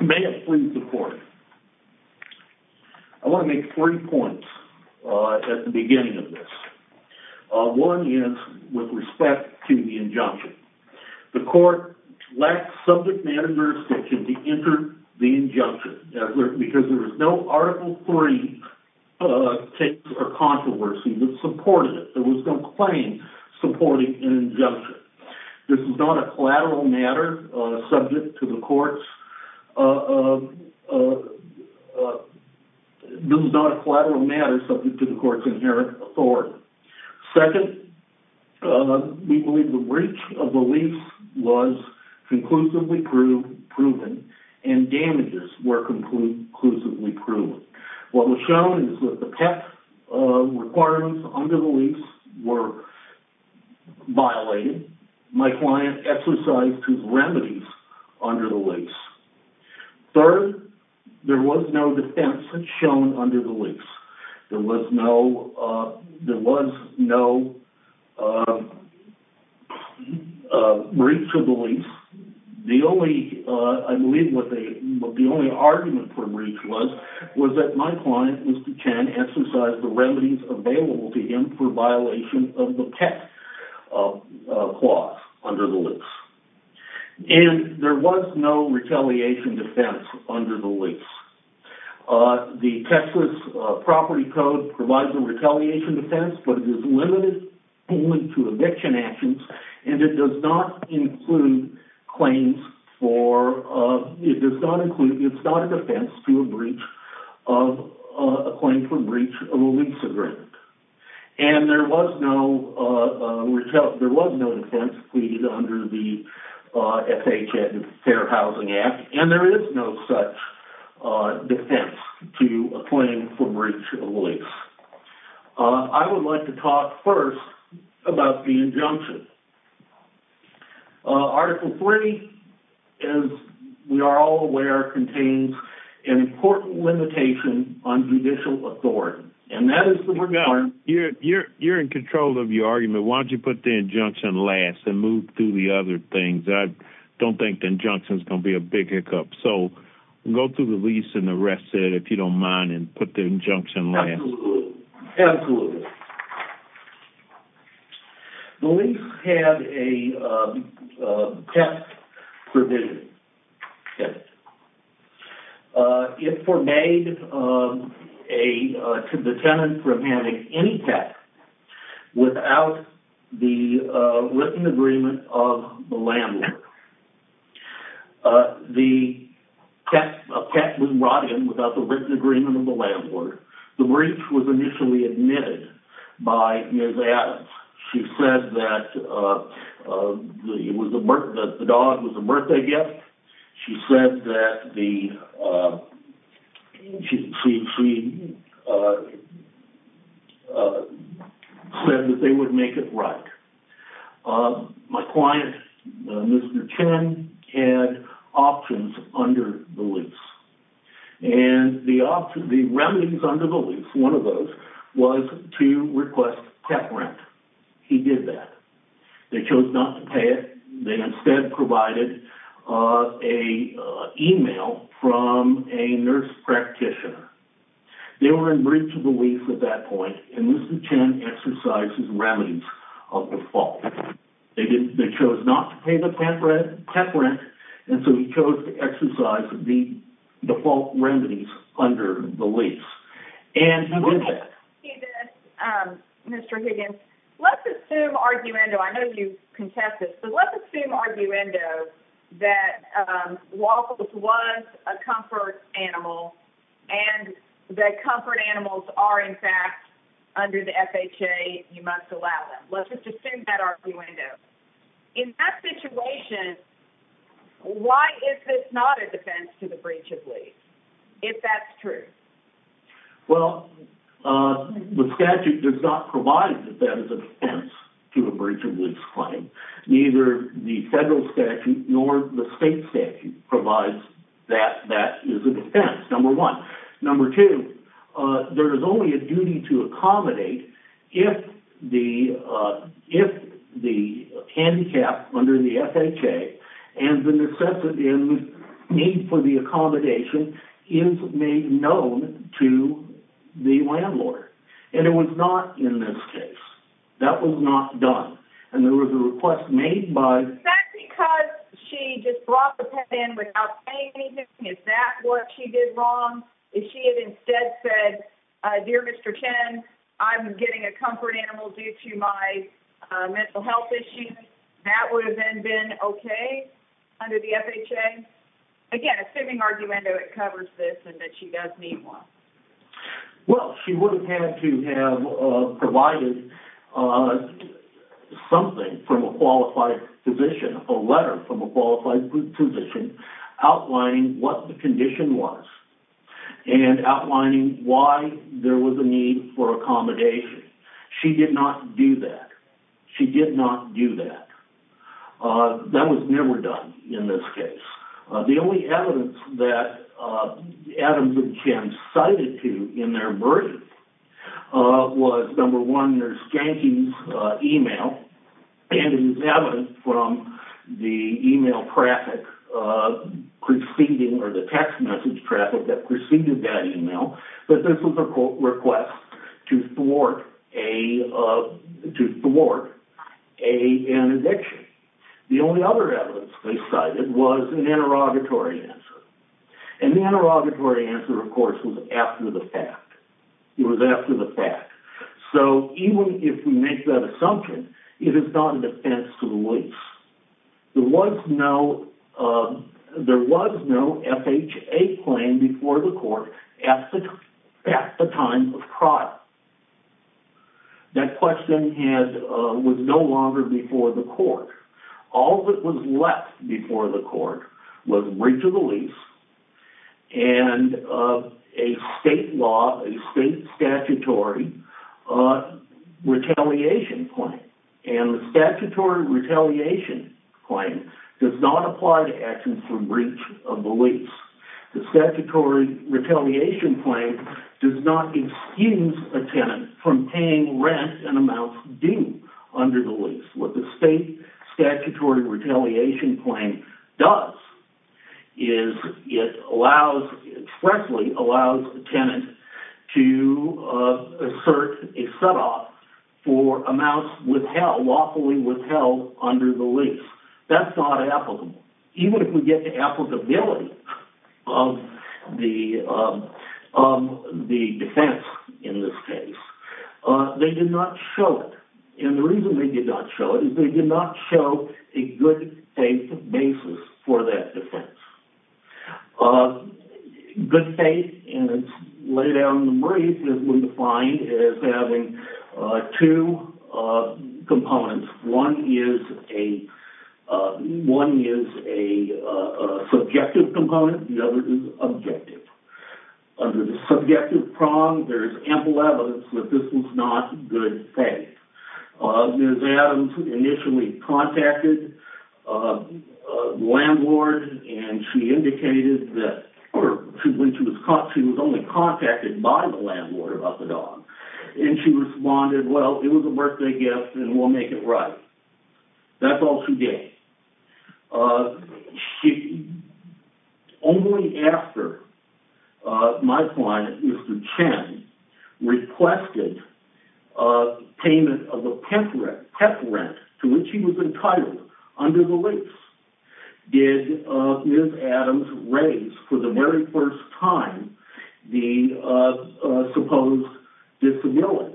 May it please the court. I want to make three points at the beginning of this. One is with respect to the injunction. The court lacked subject matter jurisdiction to enter the injunction because there was no article three case or controversy that supported it. There was no claim supporting an injunction. This is not a collateral matter subject to the court's inherent authority. Second, we believe the breach of the lease was conclusively proven and damages were conclusively proven. What was shown is that the PEP requirements under the lease were violated. My client exercised his remedies under the lease. Third, there was no defense shown under the lease. There was no breach of the lease. I believe what the only argument for breach was, was that my client, Mr. Chen, exercised the remedies available to him for violation of the PEP clause under the lease. And there was no retaliation defense under the lease. The Texas property code provides a retaliation defense but it is limited only to eviction actions and it does not conclude, it's not a defense to a claim for breach of a lease agreement. And there was no defense pleaded under the FHA Fair Housing Act and there is no such defense to a claim for breach of a lease. I would like to talk first about the injunction. Article 3, as we are all aware, contains an important limitation on judicial authority and that is... You're in control of your argument. Why don't you put the injunction last and move through the other things. I don't think the injunction is going to be a big hiccup. So go through the lease and the rest of it if you don't mind, and put the injunction last. Absolutely. The lease had a tax provision. It forbade the tenant from having any tax without the written agreement of the landlord. A pet was brought in without the written agreement of the landlord. The breach was initially admitted by Ms. Adams. She said that the My client, Mr. Chen, had options under the lease. And the options, the remedies under the lease, one of those, was to request pet rent. He did that. They chose not to pay it. They instead provided an email from a nurse practitioner. They were in breach of the lease at that point and Mr. Chen exercises remedies of default. They chose not to pay the pet rent and so he chose to exercise the default remedies under the lease. And he did that. Mr. Higgins, let's assume arguendo, I know you contested, but let's assume arguendo that Waffles was a comfort animal and that comfort animals are in fact under the FHA, you must allow them. Let's just assume that arguendo. In that situation, why is this not a defense to the breach of lease, if that's true? Well, the statute does not provide that that is a defense to a breach of lease claim. Neither the federal statute nor the state statute provides that that is a defense, number two, there is only a duty to accommodate if the if the handicap under the FHA and the necessity and need for the accommodation is made known to the landlord. And it was not in this case. That was not done. And there was a request made by... Is that because she just brought the pet in without saying anything? Is that what she did wrong? If she had instead said, dear Mr. Chen, I'm getting a comfort animal due to my mental health issues, that would have then been okay under the FHA? Again, assuming arguendo, it covers this and that she does need one. Well, she would have had to have provided something from a qualified physician, a letter from a qualified physician outlining what the condition was and outlining why there was a need for accommodation. She did not do that. She did not do that. That was never done in this case. The only evidence that Adams and Chen cited to in their email traffic preceding, or the text message traffic that preceded that email, that this was a request to thwart an addiction. The only other evidence they cited was an interrogatory answer. And the interrogatory answer, of course, was after the fact. It was after the fact. So even if we make that assumption, it is not a defense to the police. There was no FHA claim before the court at the time of trial. That question was no longer before the court. All that was left before the court was breach of the lease and a state law, a state statutory retaliation claim. And the statutory retaliation claim does not apply to actions from breach of the lease. The statutory retaliation claim does not excuse a tenant from paying rent and amounts due under the lease. What the state statutory retaliation claim does is it allows, expressly allows the tenant to assert a set off for amounts withheld, lawfully withheld under the lease. That's not applicable. Even if we get to applicability of the defense in this case, they did not show it. And the reason they did not show it is they did not show a good faith basis for that defense. Good faith, and it's laid out in the brief, has been defined as having two components. One is a subjective component. The other is objective. Under the subjective prong, there is ample evidence that this was not good faith. Ms. Adams initially contacted the landlord and she indicated that she was only contacted by the landlord about the dog. And she responded, well, it was a birthday gift and we'll make it right. That's all she gave. Only after my client, Mr. Chen, requested payment of a pet rent to which he was entitled under the lease did Ms. Adams raise for the very first time the supposed disability.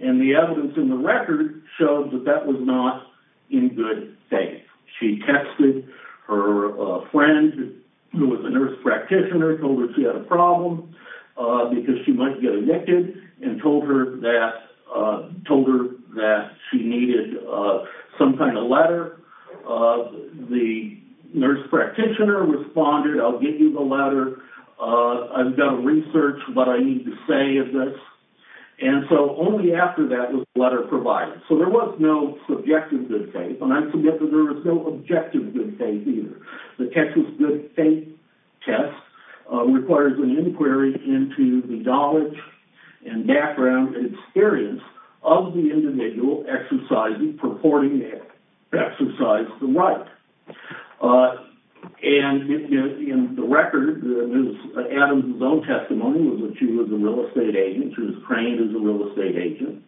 And the evidence in the record shows that that was not in good faith. She texted her friend who was a nurse practitioner, told her she had a problem because she might get evicted, and told her that she needed some kind of letter. The nurse practitioner responded, I'll get you the letter. I've got to research what I need to say of this. And so only after that was the letter provided. So there was no subjective good faith, and I forget that there was no objective good faith either. The Texas good faith test requires an inquiry into the knowledge and background and experience of the individual exercising, purporting to exercise the right. And in the record, Ms. Adams' own testimony was that she was a real estate agent. She was trained as a real estate agent.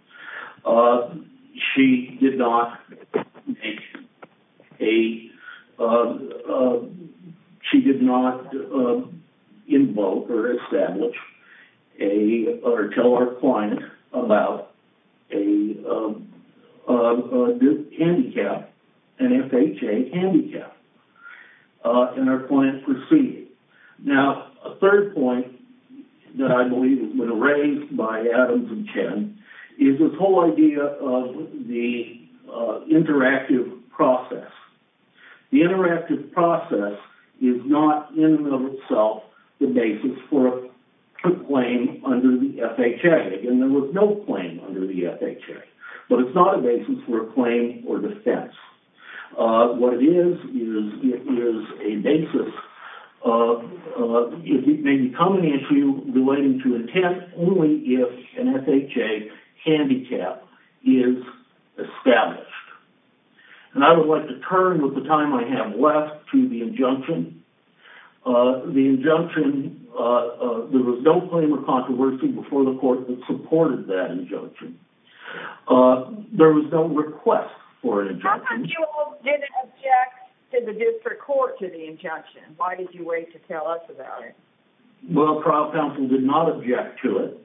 She did not make a, she did not invoke or establish a, or tell her client about a handicap, an FHA handicap. And her client proceeded. Now, a third point that I believe has been raised by Adams and Chen is this whole idea of the interactive process. The interactive process is not in and of itself the basis for a claim under the FHA. And there was no claim under the FHA. But it's not a basis for a claim or defense. What it is, is a basis of, it may become an issue relating to intent only if an FHA handicap is established. And I would like to turn with the time I have left to the injunction. The injunction, there was no claim of controversy before the court that supported that injunction. There was no request for an injunction. How come you all didn't object to the district court to the injunction? Why did you wait to tell us about it? Well, trial counsel did not object to it.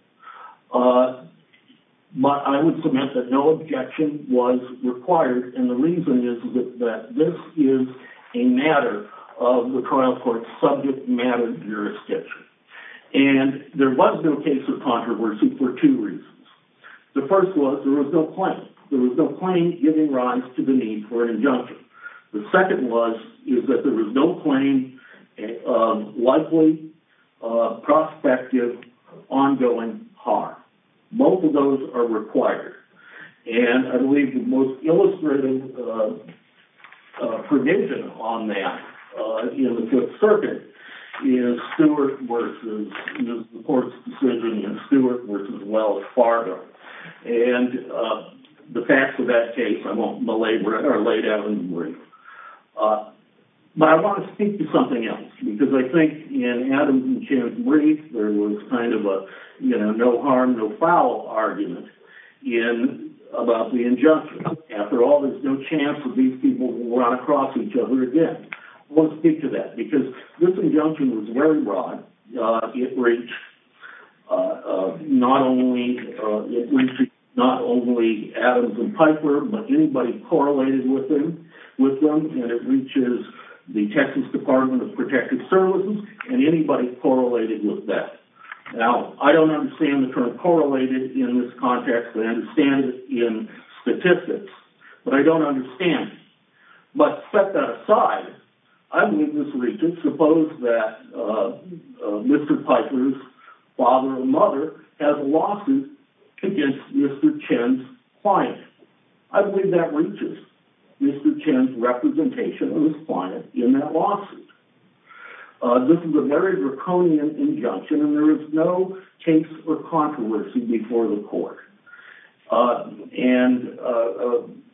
But I would submit that no objection was required. And the reason is that this is a matter of the trial court's subject matter jurisdiction. And there was no case of controversy for two reasons. The first was there was no claim. There was no claim giving rise to the need for an injunction. The second was, is that there was no claim of likely, prospective, ongoing harm. Both of those are required. And I believe the most illustrative prediction on that in the Fifth Circuit is Stewart versus, the court's decision is Stewart versus Wells Fargo. And the facts of that case are laid out in the brief. But I want to speak to something else. Because I think in Adam and Jim's brief, there was kind of a no harm, no foul argument about the injunction. After all, there's no chance that these people will run across each other again. I want to speak to that. Because this injunction was very broad. It reached not only Adams and Piper, but anybody correlated with them. And it reaches the Texas Department of Protective Services, and anybody correlated with that. Now, I don't understand the term correlated in this context, but I understand it in statistics. But I don't understand it. But set that aside, I believe this reaches, suppose that Mr. Piper's father or mother has a lawsuit against Mr. Chen's client. I believe that reaches Mr. Chen's representation of his client in that lawsuit. This is a very draconian injunction, and there is no case for controversy before the court. And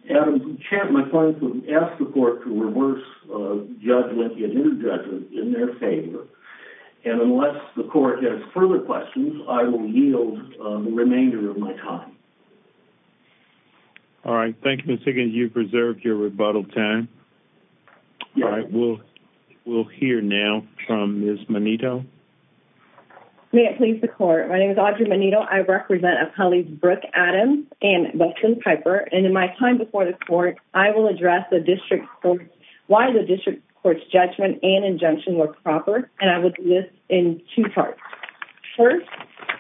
Adams and Chen, my clients, have asked the court to reverse judgment in their favor. And unless the court has further questions, I will yield the remainder of my time. All right. Thank you, Ms. Higgins. You've preserved your rebuttal time. All right. We'll hear now from Ms. Monito. May it please the court. My name is Audrey Monito. I represent appellees Brooke Adams and Wilson Piper. And in my time before the court, I will address why the district court's judgment and injunction were proper. And I will do this in two parts. First,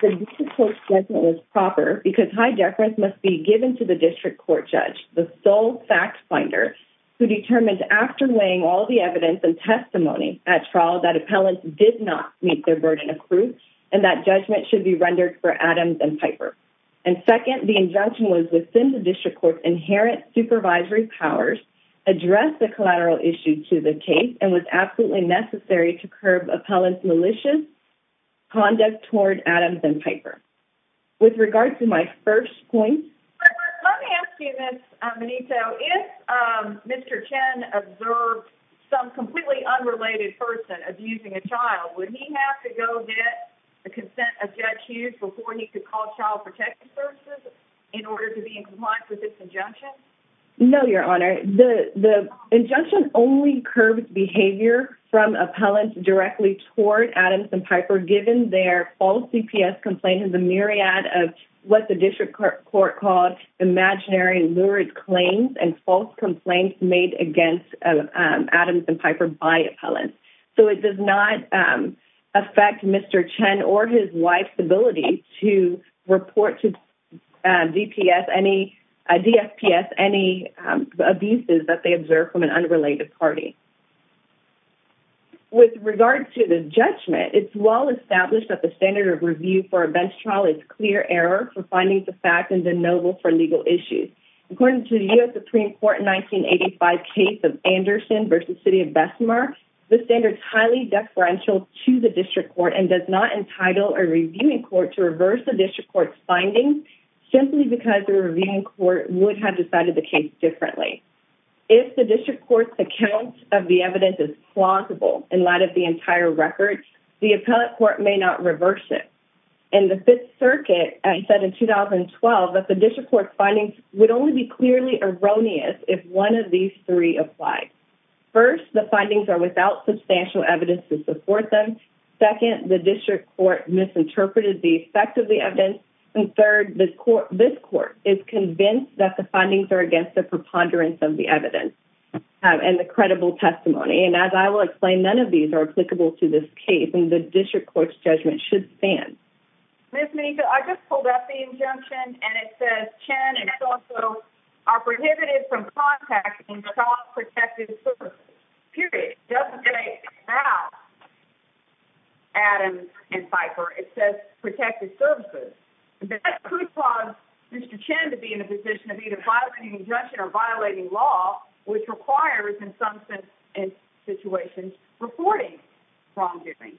the district court's judgment was proper because high deference must be given to the district court judge, the sole fact finder, who determines after weighing all the evidence and testimony at trial that appellants did not meet their burden of proof and that judgment should be rendered for Adams and Piper. And second, the injunction was within the district court's inherent supervisory powers, addressed the collateral issue to the case, and was absolutely necessary to curb appellants' malicious conduct toward Adams and Piper. With regard to my first point... Let me ask you this, Monito. If Mr. Chen observed some completely unrelated person abusing a child, would he have to go get the consent of Judge Hughes before he could call Child Protection Services in order to be in compliance with his injunction? No, Your Honor. The injunction only curbs behavior from appellants directly toward Adams and Piper given their false DPS complaint in the myriad of what the district court called imaginary lurid claims and false complaints made against Adams and Piper by appellants. So it does not affect Mr. Chen or his wife's ability to report to DPS any abuses that they observed from an unrelated party. With regard to the judgment, it's well established that the standard of review for a bench trial is clear error for findings of fact and de novo for legal issues. According to the U.S. Supreme Court in 1985 case of Anderson v. City of Bessemer, this standard is highly deferential to the district court and does not entitle a reviewing court to reverse the district court's findings simply because the reviewing court would have decided the case differently. If the district court's account of the evidence is plausible in light of the entire record, the appellate court may not reverse it. In the Fifth Circuit, it said in 2012 that the district court's findings would only be clearly erroneous if one of these three applied. First, the findings are without substantial evidence to support them. Second, the district court misinterpreted the effect of the evidence. And third, this court is convinced that the findings are against the preponderance of the evidence and the credible testimony. And as I will explain, none of these are applicable to this case, and the district court's judgment should stand. Ms. Meneca, I just pulled up the injunction, and it says Chen and Soto are prohibited from contacting trauma-protected services. Period. It doesn't say now, Adams and Pfeiffer. It says protected services. That could cause Mr. Chen to be in a position of either violating injunction or violating law, which requires, in some situations, reporting wrongdoing.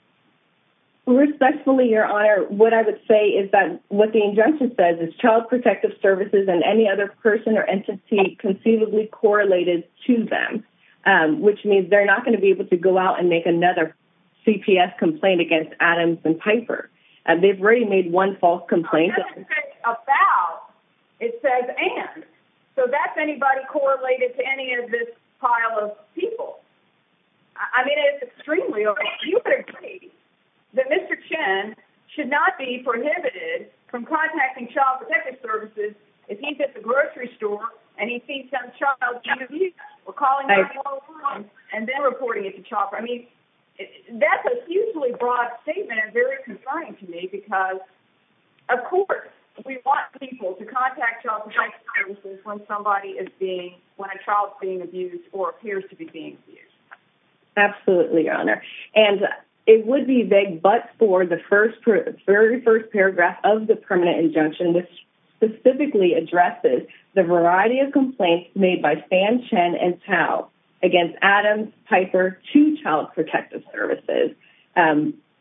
Respectfully, Your Honor, what I would say is that what the injunction says is child protective services and any other person or entity conceivably correlated to them, which means they're not going to be able to go out and make another CPS complaint against Adams and Pfeiffer. They've already made one false complaint. It doesn't say about. It says and. So that's anybody correlated to any of this pile of people. I mean, it's extremely—you would agree that Mr. Chen should not be prohibited from contacting child protective services if he's at the grocery store and he sees some child being abused or calling 911 and then reporting it to child— I mean, that's a hugely broad statement and very concerning to me because, of course, we want people to contact child protective services when somebody is being—when a child is being abused or appears to be being abused. Absolutely, Your Honor. And it would be vague but for the first—very first paragraph of the permanent injunction, which specifically addresses the variety of complaints made by Sam Chen and Tao against Adams, Pfeiffer, two child protective services.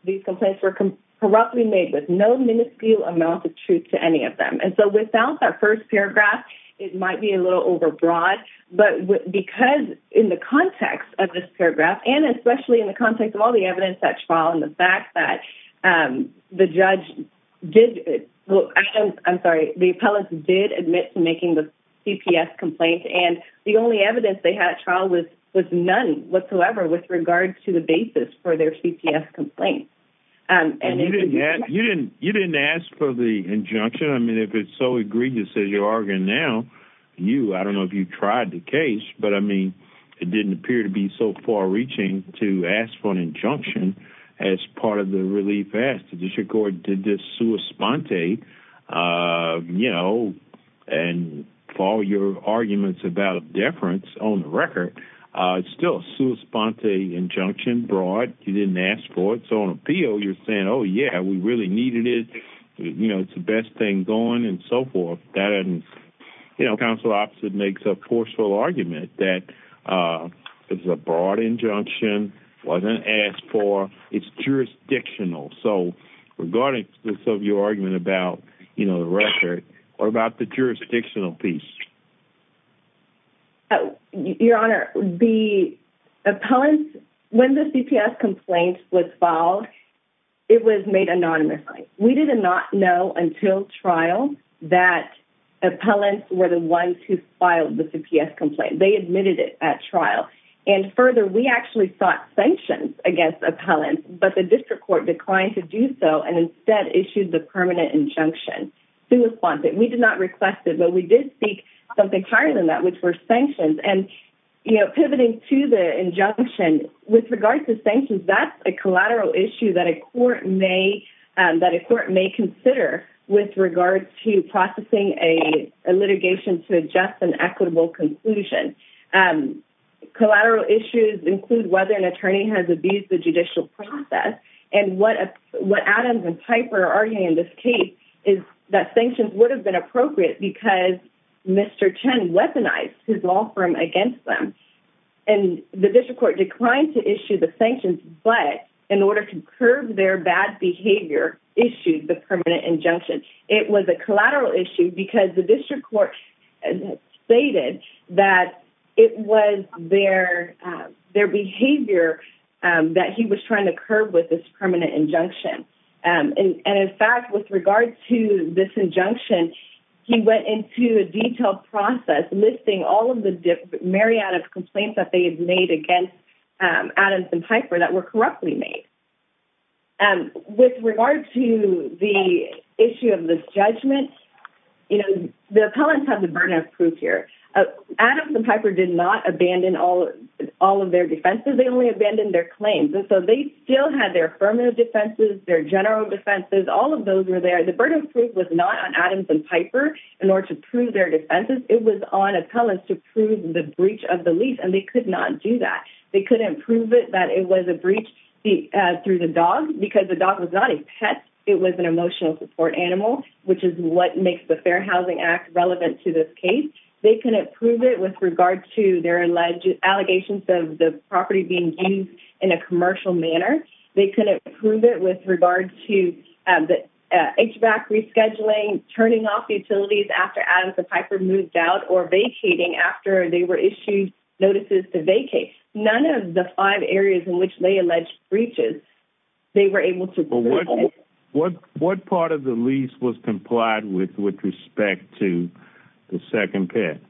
These complaints were corruptly made with no minuscule amount of truth to any of them. And so without that first paragraph, it might be a little overbroad, but because in the context of this paragraph and especially in the context of all the evidence that's filed and the fact that the judge did—I'm sorry, the appellate did admit to making the CPS complaint and the only evidence they had at trial was none whatsoever with regard to the basis for their CPS complaint. And you didn't ask for the injunction? I mean, if it's so egregious as you're arguing now, you—I don't know if you tried the case, but, I mean, it didn't appear to be so far-reaching to ask for an injunction as part of the relief ask. The district court did this sua sponte, you know, and for all your arguments about deference on the record, it's still a sua sponte injunction, broad. You didn't ask for it. So on appeal, you're saying, oh, yeah, we really needed it. You know, it's the best thing going and so forth. You know, counsel opposite makes a forceful argument that it's a broad injunction, wasn't asked for, it's jurisdictional. So regarding this of your argument about, you know, the record, what about the jurisdictional piece? Your Honor, the appellants, when the CPS complaint was filed, it was made anonymously. We did not know until trial that appellants were the ones who filed the CPS complaint. They admitted it at trial. And further, we actually sought sanctions against appellants, but the district court declined to do so and instead issued the permanent injunction, sua sponte. We did not request it, but we did seek something higher than that, which were sanctions. And, you know, pivoting to the injunction, with regard to sanctions, that's a collateral issue that a court may consider with regard to processing a litigation to adjust an equitable conclusion. Collateral issues include whether an attorney has abused the judicial process. And what Adams and Piper are arguing in this case is that sanctions would have been appropriate because Mr. Chen weaponized his law firm against them. And the district court declined to issue the sanctions, but in order to curb their bad behavior, issued the permanent injunction. It was a collateral issue because the district court stated that it was their behavior that he was trying to curb with this permanent injunction. And in fact, with regard to this injunction, he went into a detailed process listing all of the myriad of complaints that they had made against Adams and Piper that were corruptly made. With regard to the issue of this judgment, you know, the appellants have the burden of proof here. Adams and Piper did not abandon all of their defenses. They only abandoned their claims. And so they still had their affirmative defenses, their general defenses, all of those were there. The burden of proof was not on Adams and Piper in order to prove their defenses. It was on appellants to prove the breach of the lease and they could not do that. They couldn't prove it that it was a breach through the dog because the dog was not a pet. It was an emotional support animal, which is what makes the Fair Housing Act relevant to this case. They couldn't prove it with regard to their alleged allegations of the property being used in a commercial manner. They couldn't prove it with regard to HVAC rescheduling, turning off utilities after Adams and Piper moved out, or vacating after they were issued notices to vacate. None of the five areas in which they alleged breaches, they were able to prove it. What part of the lease was complied with with respect to the second pet?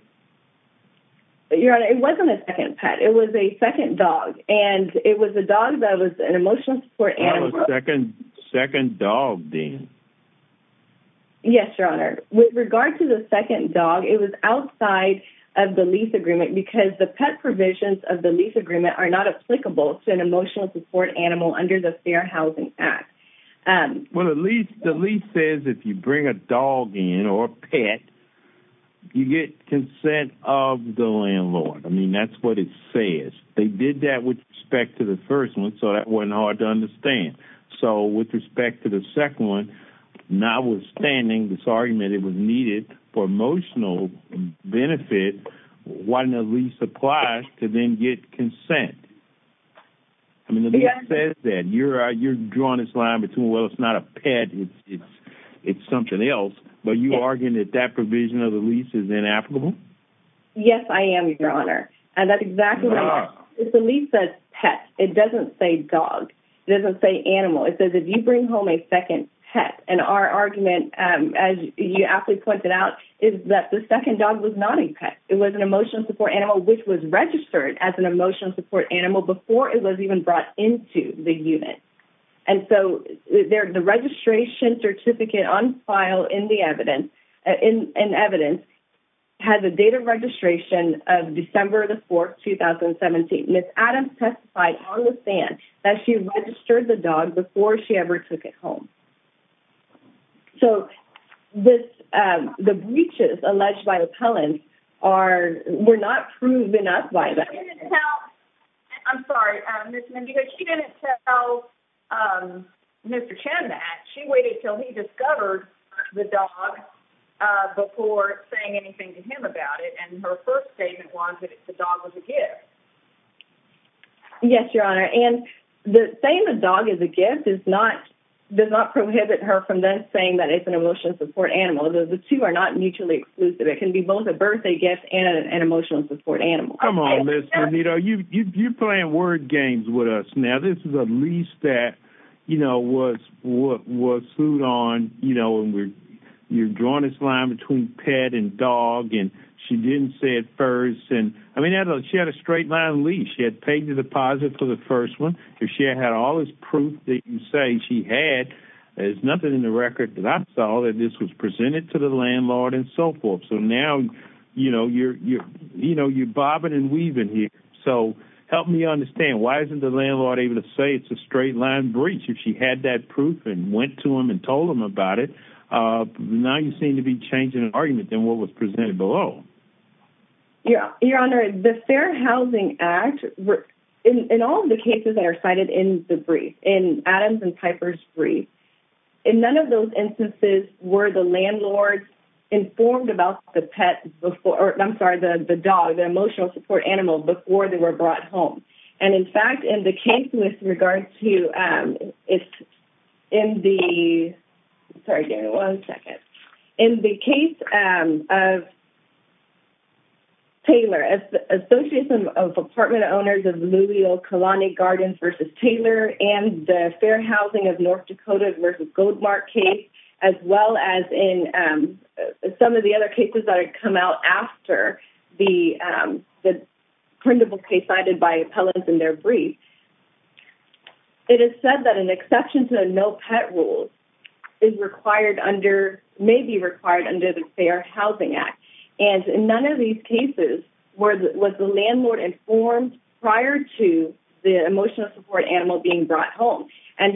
Your Honor, it wasn't a second pet. It was a second dog. And it was a dog that was an emotional support animal. Yes, Your Honor. With regard to the second dog, it was outside of the lease agreement because the pet provisions of the lease agreement are not applicable to an emotional support animal under the Fair Housing Act. Well, the lease says if you bring a dog in or a pet, you get consent of the landlord. I mean, that's what it says. They did that with respect to the first one, so that wasn't hard to understand. So, with respect to the second one, notwithstanding this argument it was needed for emotional benefit, why didn't the lease apply to then get consent? I mean, the lease says that. You're drawing this line between, well, it's not a pet, it's something else, but you're arguing that that provision of the lease is inapplicable? Yes, I am, Your Honor. And that's exactly right. The lease says pet. It doesn't say dog. It doesn't say animal. It says if you bring home a second pet. And our argument, as you aptly pointed out, is that the second dog was not a pet. It was an emotional support animal which was registered as an emotional support animal before it was even brought into the unit. And so, the registration certificate on file in the evidence has a date of registration of December the 4th, 2017. Ms. Adams testified on the stand that she registered the dog before she ever took it home. So, the breaches alleged by appellants were not proven enough by them. I'm sorry, Ms. Mendejo, she didn't tell Mr. Chen that. She waited until he discovered the dog before saying anything to him about it. And her first statement was that the dog was a gift. Yes, Your Honor. And saying the dog is a gift does not prohibit her from then saying that it's an emotional support animal. The two are not mutually exclusive. It can be both a birthday gift and an emotional support animal. Oh, come on, Ms. Mendejo. You're playing word games with us. Now, this is a lease that was sued on. You're drawing this line between pet and dog and she didn't say it first. I mean, she had a straight line lease. She had paid the deposit for the first one. She had all this proof that you say she had. There's nothing in the record that I saw that this was presented to the landlord and so forth. So, now, you know, you're bobbing and weaving here. So, help me understand. Why isn't the landlord able to say it's a straight line breach if she had that proof and went to him and told him about it? Now, you seem to be changing an argument than what was presented below. Your Honor, the Fair Housing Act, in all of the cases that are cited in the brief, in Adam's and Piper's brief, in none of those instances were the landlord informed about the dog, the emotional support animal, before they were brought home. And, in fact, in the case with regard to, in the, sorry, one second. In the case of Taylor, association of apartment owners of Louisville Kalani Gardens versus Taylor and the Fair Housing of North Dakota versus Goldmark case, as well as in some of the other cases that have come out after the printable case cited by appellants in their brief, it is said that an exception to the no pet rule is required under, may be required under the Fair Housing Act. And in none of these cases was the landlord informed prior to the emotional support animal being brought home. And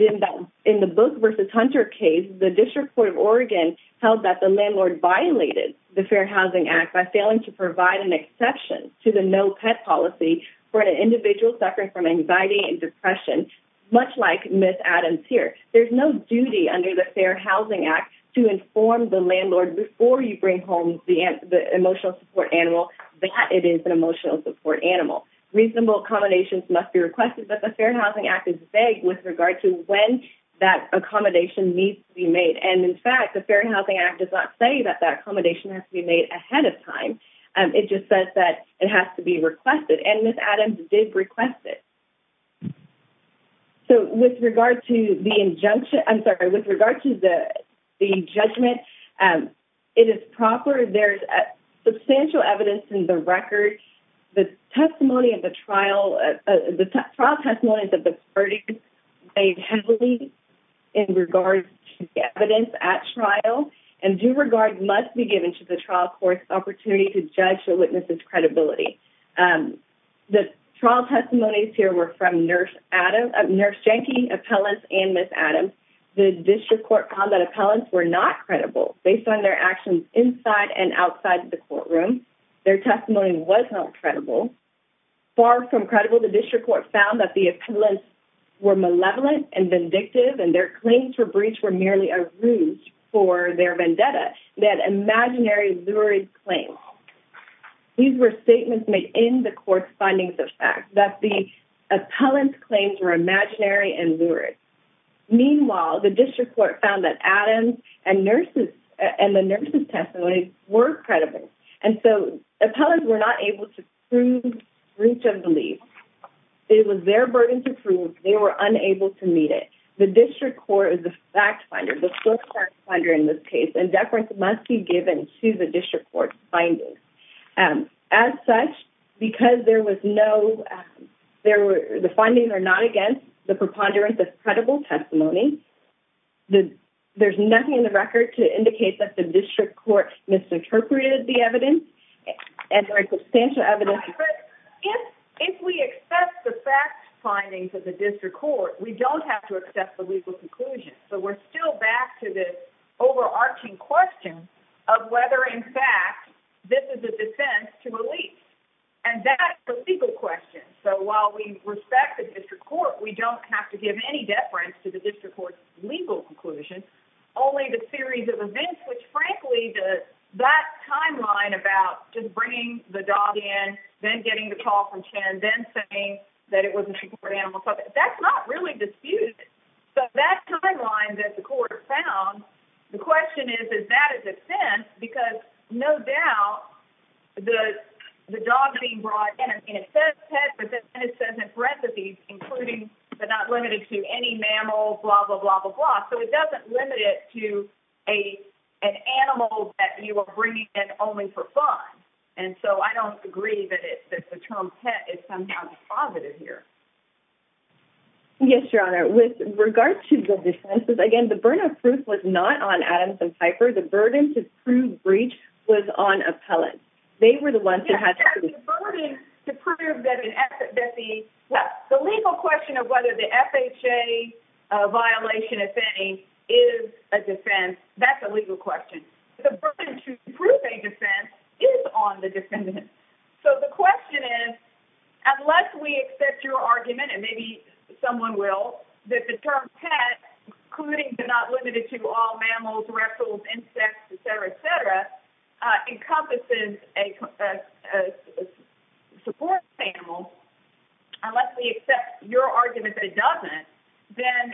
in the Booth versus Hunter case, the District Court of Oregon held that the landlord violated the Fair Housing Act by failing to provide an exception to the no pet policy for an individual suffering from anxiety and depression, much like Miss Adams here. There's no duty under the Fair Housing Act to inform the landlord before you bring home the emotional support animal that it is an emotional support animal. Reasonable accommodations must be requested, but the Fair Housing Act is vague with regard to when that accommodation needs to be made. And, in fact, the Fair Housing Act does not say that that accommodation has to be made ahead of time. It just says that it has to be requested, and Miss Adams did request it. So with regard to the injunction, I'm sorry, with regard to the judgment, it is proper. There's substantial evidence in the record. The testimony of the trial, the trial testimonies of the verdicts weighed heavily in regard to the evidence at trial. And due regard must be given to the trial court's opportunity to judge the witness's credibility. The trial testimonies here were from Nurse Adams, Nurse Jenke, appellants, and Miss Adams. The district court found that appellants were not credible based on their actions inside and outside the courtroom. Their testimony was not credible. Far from credible, the district court found that the appellants were malevolent and vindictive, and their claims for breach were merely a ruse for their vendetta. They had imaginary, lurid claims. These were statements made in the court's findings of fact, that the appellants' claims were imaginary and lurid. Meanwhile, the district court found that Adams and the nurses' testimonies were credible, and so appellants were not able to prove breach of belief. It was their burden to prove. They were unable to meet it. The district court is the fact finder, the first fact finder in this case, and deference must be given to the district court's findings. As such, because the findings are not against the preponderance of credible testimony, there's nothing in the record to indicate that the district court misinterpreted the evidence. If we accept the fact findings of the district court, we don't have to accept the legal conclusion. So we're still back to this overarching question of whether, in fact, this is a defense to a lease. And that's the legal question. So while we respect the district court, we don't have to give any deference to the district court's legal conclusion. Only the series of events, which, frankly, that timeline about just bringing the dog in, then getting the call from Chen, then saying that it was an animal, that's not really disputed. So that timeline that the court found, the question is, is that a defense? Because no doubt the dog being brought in, I mean, it says pet, but then it says it's recipes, including but not limited to any mammals, blah, blah, blah, blah, blah. So it doesn't limit it to an animal that you are bringing in only for fun. And so I don't agree that the term pet is somehow positive here. Yes, Your Honor. With regard to the defenses, again, the burden of proof was not on Adams and Piper. The burden to prove breach was on appellants. They were the ones who had to prove it. The burden to prove that the legal question of whether the FHA violation, if any, is a defense, that's a legal question. The burden to prove a defense is on the defendant. So the question is, unless we accept your argument, and maybe someone will, that the term pet, including but not limited to all mammals, reptiles, insects, etc., etc., encompasses a support animal, unless we accept your argument that it doesn't, then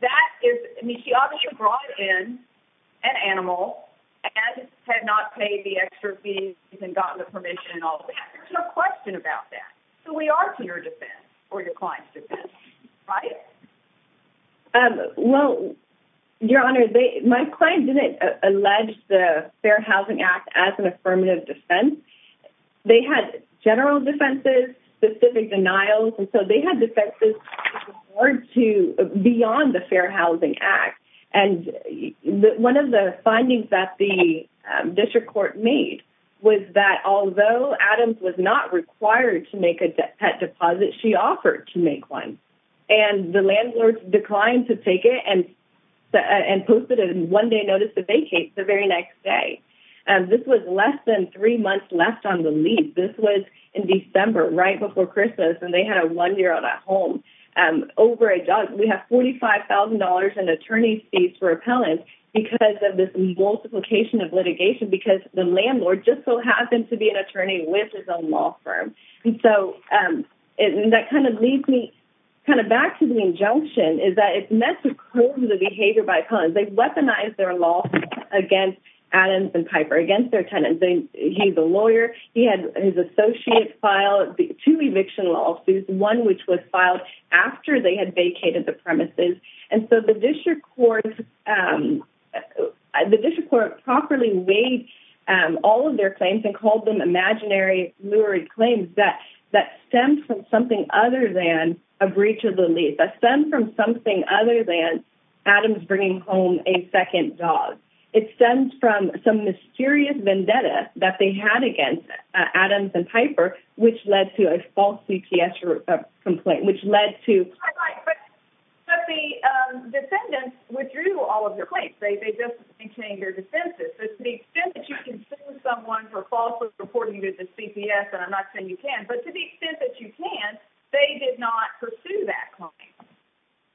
that is, I mean, she obviously brought in an animal and had not paid the extra fees and gotten the permission and all of that. There's no question about that. So we are to your defense or your client's defense, right? Well, Your Honor, my client didn't allege the Fair Housing Act as an affirmative defense. They had general defenses, specific denials, and so they had defenses beyond the Fair Housing Act. And one of the findings that the district court made was that although Adams was not required to make a pet deposit, she offered to make one. And the landlord declined to take it and posted a one-day notice to vacate the very next day. This was less than three months left on the lease. This was in December, right before Christmas, and they had a one-year-old at home. We have $45,000 in attorney fees for appellants because of this multiplication of litigation because the landlord just so happened to be an attorney with his own law firm. And so that kind of leads me kind of back to the injunction, is that it's meant to curb the behavior by appellants. They weaponized their lawsuit against Adams and Piper, against their tenant. He's a lawyer. He had his associate file two eviction lawsuits, one which was filed after they had vacated the premises. And so the district court properly weighed all of their claims and called them imaginary, lurid claims that stemmed from something other than a breach of the lease. That stemmed from something other than Adams bringing home a second dog. It stemmed from some mysterious vendetta that they had against Adams and Piper, which led to a false CPS complaint, which led to... But the defendants withdrew all of their claims. They just maintained their defenses. So to the extent that you can sue someone for falsely reporting to the CPS, and I'm not saying you can, but to the extent that you can, they did not pursue that claim.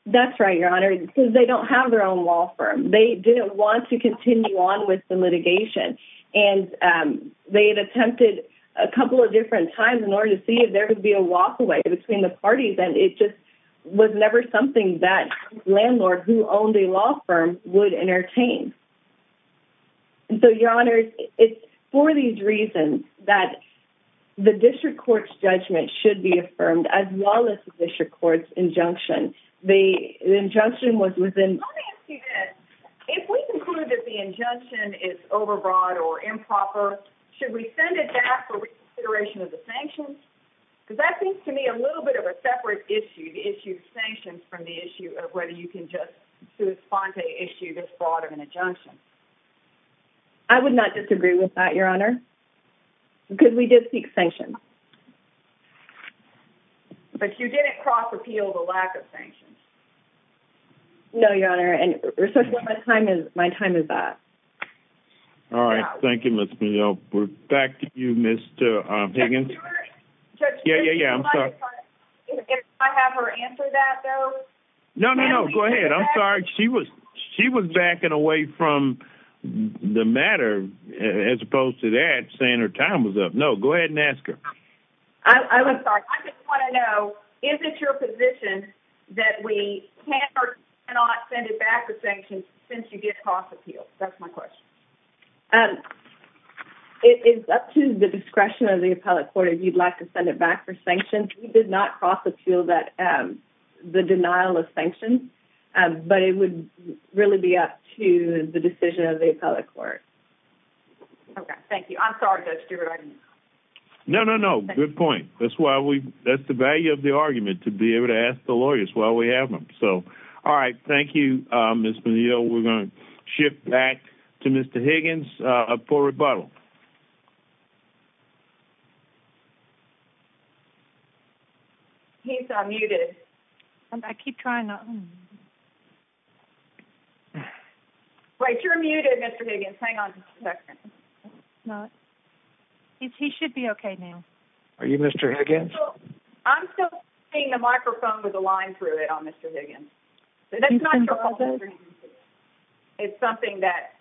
That's right, Your Honor, because they don't have their own law firm. They didn't want to continue on with the litigation. And they had attempted a couple of different times in order to see if there could be a walkaway between the parties, and it just was never something that a landlord who owned a law firm would entertain. And so, Your Honor, it's for these reasons that the district court's judgment should be affirmed, as well as the district court's injunction. The injunction was within... Let me ask you this. If we conclude that the injunction is overbroad or improper, should we send it back for reconsideration of the sanctions? Because that seems to me a little bit of a separate issue, the issue of sanctions, from the issue of whether you can just sue a sponte issue this broad of an injunction. I would not disagree with that, Your Honor, because we did seek sanctions. But you didn't cross-repeal the lack of sanctions? No, Your Honor. And, respectfully, my time is up. All right. Thank you, Ms. McGill. We're back to you, Mr. Higgins. Yeah, yeah, yeah. I'm sorry. If I have her answer that, though? No, no, no. Go ahead. I'm sorry. She was backing away from the matter, as opposed to that, saying her time was up. No, go ahead and ask her. I'm sorry. I just want to know, is it your position that we can or cannot send it back for sanctions since you did cross-repeal? That's my question. It's up to the discretion of the appellate court if you'd like to send it back for sanctions. We did not cross-repeal the denial of sanctions, but it would really be up to the decision of the appellate court. Okay. Thank you. I'm sorry, Judge Stewart. I didn't know. No, no, no. Good point. That's the value of the argument, to be able to ask the lawyers while we have them. All right. Thank you, Ms. Menil. We're going to shift back to Mr. Higgins for rebuttal. He's unmuted. I keep trying not to. Wait, you're muted, Mr. Higgins. Hang on just a second. He should be okay now. Are you Mr. Higgins? I'm still seeing the microphone with the line through it on Mr. Higgins. That's not your fault, Mr. Higgins. It's something that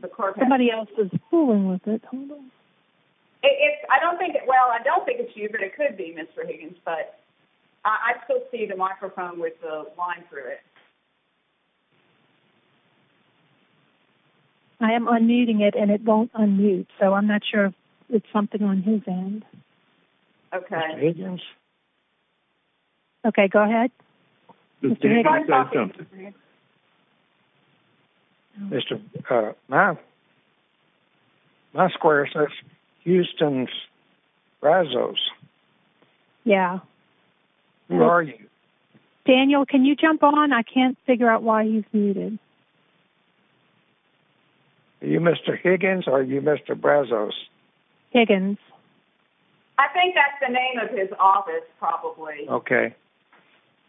the court has. Somebody else is fooling with it. Well, I don't think it's you, but it could be Mr. Higgins. But I still see the microphone with the line through it. I am unmuting it, and it won't unmute. So I'm not sure if it's something on his end. Mr. Higgins? Okay, go ahead. Mr. Higgins? My square says Houston Brazos. Yeah. Who are you? Daniel, can you jump on? I can't figure out why he's muted. Are you Mr. Higgins or are you Mr. Brazos? Higgins. I think that's the name of his office, probably. Okay.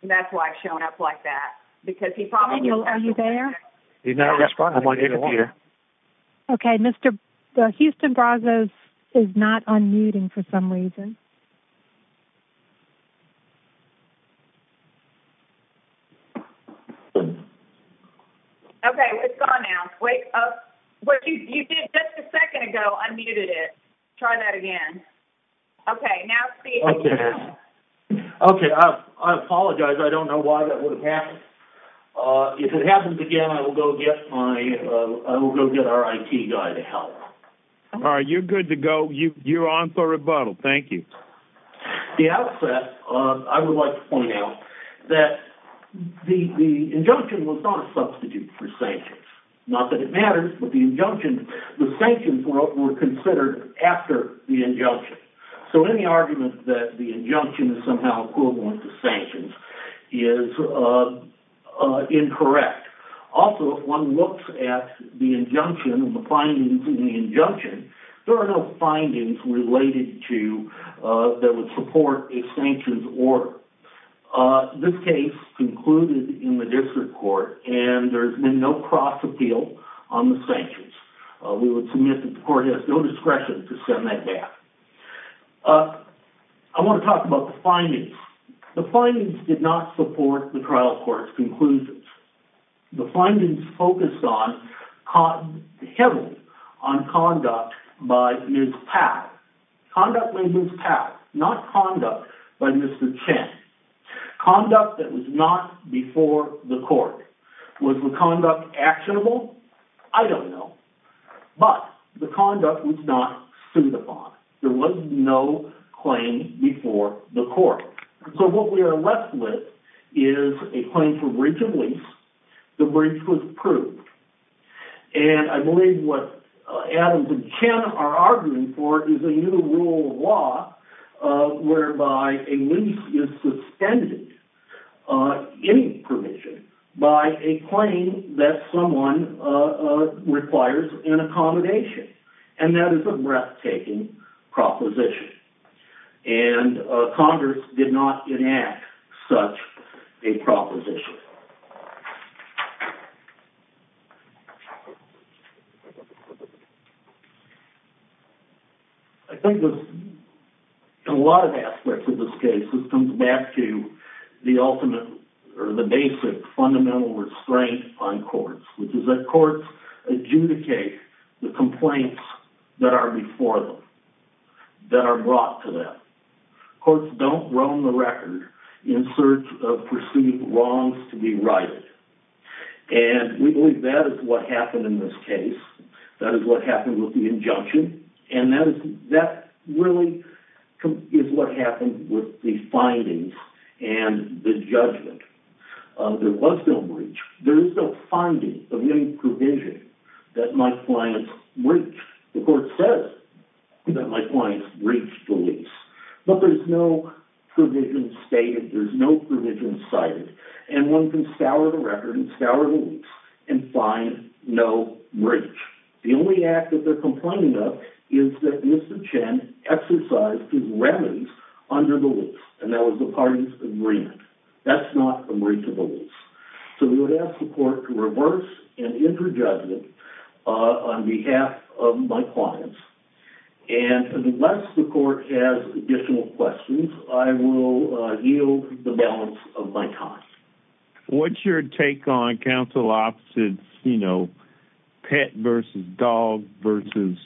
That's why it's showing up like that. Daniel, are you there? He's not responding. Okay, Mr. Houston Brazos is not unmuting for some reason. Okay, it's gone now. What you did just a second ago unmuted it. Try that again. Okay, now speak again. Okay, I apologize. I don't know why that would have happened. If it happens again, I will go get our IT guy to help. All right, you're good to go. You're on for rebuttal. Thank you. The outset, I would like to point out that the injunction was not a substitute for sanctions. Not that it matters, but the sanctions were considered after the injunction. So any argument that the injunction is somehow equivalent to sanctions is incorrect. Also, if one looks at the injunction and the findings in the injunction, there are no findings that would support a sanctions order. This case concluded in the district court and there has been no cross appeal on the sanctions. We would submit that the court has no discretion to send that back. I want to talk about the findings. The findings did not support the trial court's conclusions. The findings focused heavily on conduct by Ms. Papp. Conduct by Ms. Papp, not conduct by Mr. Chen. Conduct that was not before the court. Was the conduct actionable? I don't know. But the conduct was not sued upon. There was no claim before the court. So what we are left with is a claim for breach of lease. The breach was proved. And I believe what Adams and Chen are arguing for is a new rule of law whereby a lease is suspended, any permission, by a claim that someone requires an accommodation. And that is a breathtaking proposition. And Congress did not enact such a proposition. I think in a lot of aspects of this case, this comes back to the ultimate, or the basic fundamental restraint on courts, which is that courts adjudicate the complaints that are before them, that are brought to them. Courts don't roam the record in search of perceived wrongs to be righted. And we believe that is what happened in this case. That is what happened with the injunction. And that really is what happened with the findings and the judgment. There was no breach. There is no finding of any provision that my clients breached. The court says that my clients breached the lease. But there's no provision stated. There's no provision cited. And one can scour the record and scour the lease and find no breach. The only act that they're complaining of is that Mr. Chen exercised his remedies under the lease. And that was the parties' agreement. That's not a breach of the lease. So we would ask the court to reverse and interjudge it on behalf of my clients. And unless the court has additional questions, I will yield the balance of my time. What's your take on counsel opposite, you know, pet versus dog versus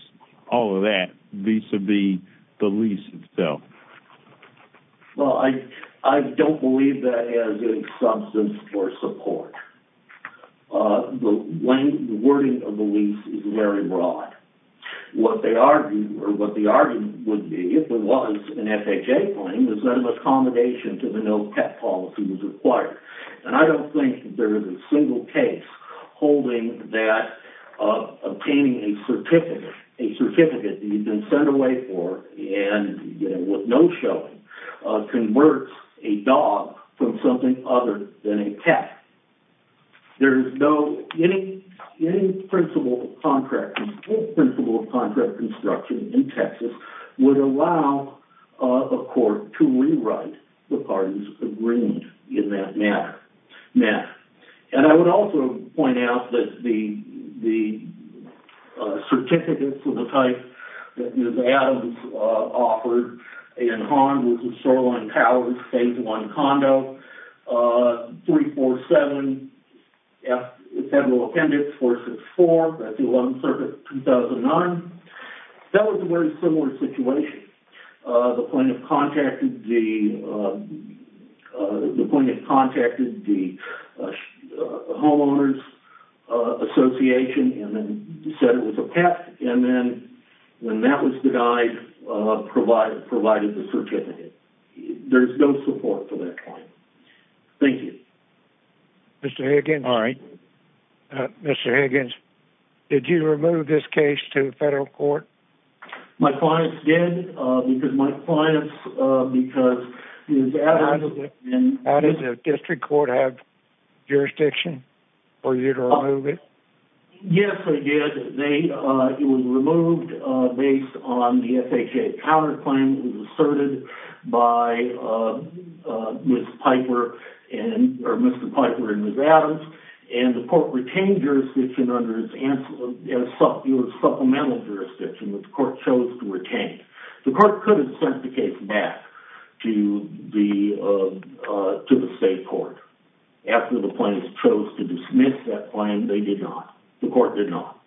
all of that, vis-a-vis the lease itself? Well, I don't believe that as a substance for support. The wording of the lease is very broad. What they argue, or what the argument would be if there was an FHA claim, is that an accommodation to the no pet policy was required. And I don't think there is a single case holding that obtaining a certificate, a certificate that you've been sent away for, and with no showing, converts a dog from something other than a pet. There is no, any principle of contract construction in Texas would allow a court to rewrite the parties' agreement in that matter. And I would also point out that the certificate for the type that Ms. Adams offered in harm with the Shoreline Towers Phase 1 condo, 347F Federal Appendix 464, that's the 11th Circuit, 2009, that was a very similar situation. The plaintiff contacted the homeowners association and said it was a pet, and then when that was denied, provided the certificate. There's no support for that claim. Thank you. Mr. Higgins, did you remove this case to the federal court? My clients did, because my clients, because Ms. Adams... Did the district court have jurisdiction for you to remove it? Yes, they did. It was removed based on the FHA counterclaim that was asserted by Ms. Piper, and the court retained jurisdiction under its supplemental jurisdiction, which the court chose to retain. The court could have sent the case back to the state court. After the plaintiffs chose to dismiss that claim, they did not. The court did not.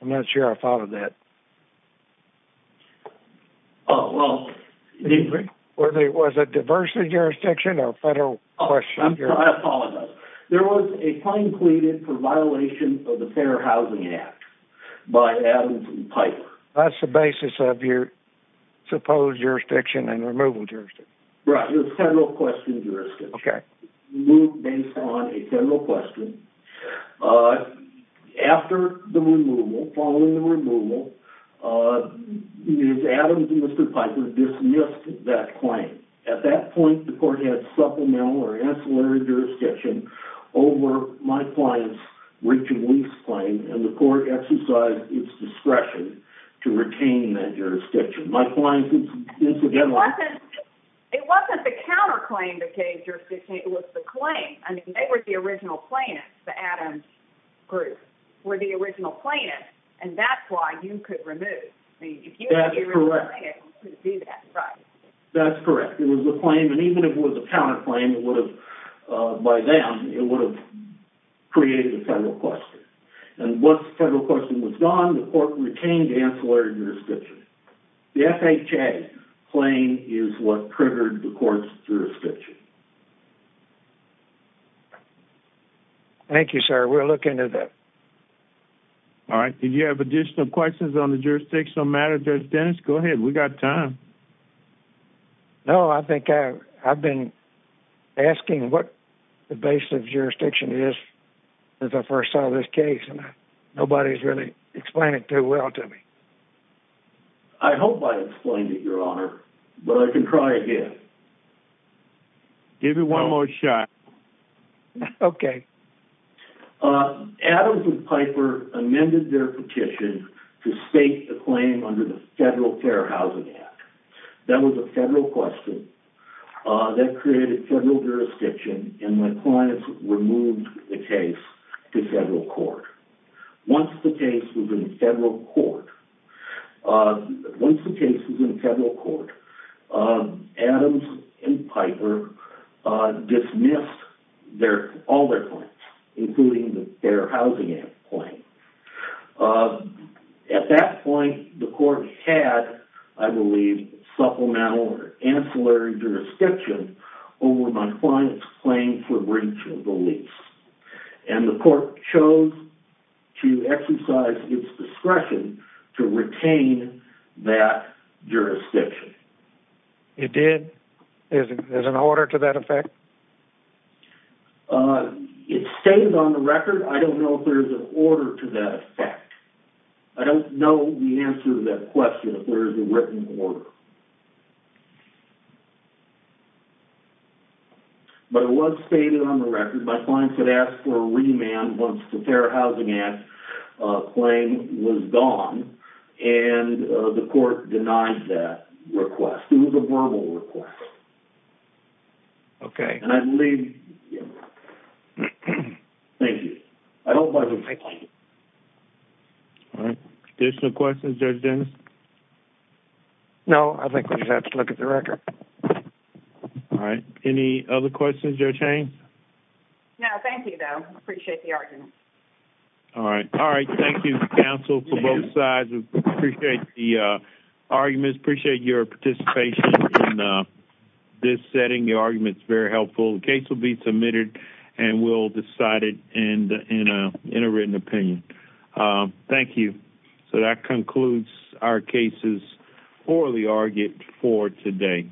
I'm not sure I followed that. Oh, well... Whether it was a diversity jurisdiction or federal jurisdiction. I apologize. There was a claim pleaded for violation of the Fair Housing Act by Adams and Piper. That's the basis of your supposed jurisdiction and removal jurisdiction? Right, the federal question jurisdiction. Okay. Removed based on a federal question. After the removal, following the removal, Ms. Adams and Mr. Piper dismissed that claim. At that point, the court had supplemental or ancillary jurisdiction over my client's reach and lease claim, and the court exercised its discretion to retain that jurisdiction. My client's, incidentally... It wasn't the counterclaim that gave jurisdiction. It was the claim. I mean, they were the original plaintiffs, the Adams group, were the original plaintiffs, and that's why you could remove. That's correct. If you were the original plaintiff, you could do that, right? That's correct. It was the claim, and even if it was a counterclaim, it would have... By them, it would have created a federal question. And once the federal question was gone, the court retained the ancillary jurisdiction. The FHA claim is what triggered the court's jurisdiction. Thank you, sir. We'll look into that. All right. Did you have additional questions on the jurisdictional matter, Judge Dennis? Go ahead. We got time. No, I think I've been asking what the basis of jurisdiction is since I first saw this case, and nobody's really explained it too well to me. I hope I explained it, Your Honor, but I can try again. Give it one more shot. Okay. Adams and Piper amended their petition to state the claim under the Federal Fair Housing Act. That was a federal question that created federal jurisdiction, and my clients removed the case to federal court. Once the case was in federal court, Adams and Piper dismissed all their claims, including the Fair Housing Act claim. At that point, the court had, I believe, supplemental or ancillary jurisdiction over my client's claim for breach of the lease. And the court chose to exercise its discretion to retain that jurisdiction. It did? There's an order to that effect? It's stated on the record. I don't know if there's an order to that effect. I don't know the answer to that question, if there is a written order. But it was stated on the record. My clients had asked for a remand once the Fair Housing Act claim was gone, and the court denied that request. It was a verbal request. Okay. And I believe... Thank you. I hope I explained it. Thank you. All right. Additional questions, Judge Dennis? No, I think we just have to look at the record. All right. Any other questions, Judge Haynes? No, thank you, though. Appreciate the argument. All right. Thank you, counsel, for both sides. Appreciate the arguments. Appreciate your participation in this setting. Your argument is very helpful. The case will be submitted, and we'll decide it in a written opinion. Thank you. So that concludes our cases for the argument for today.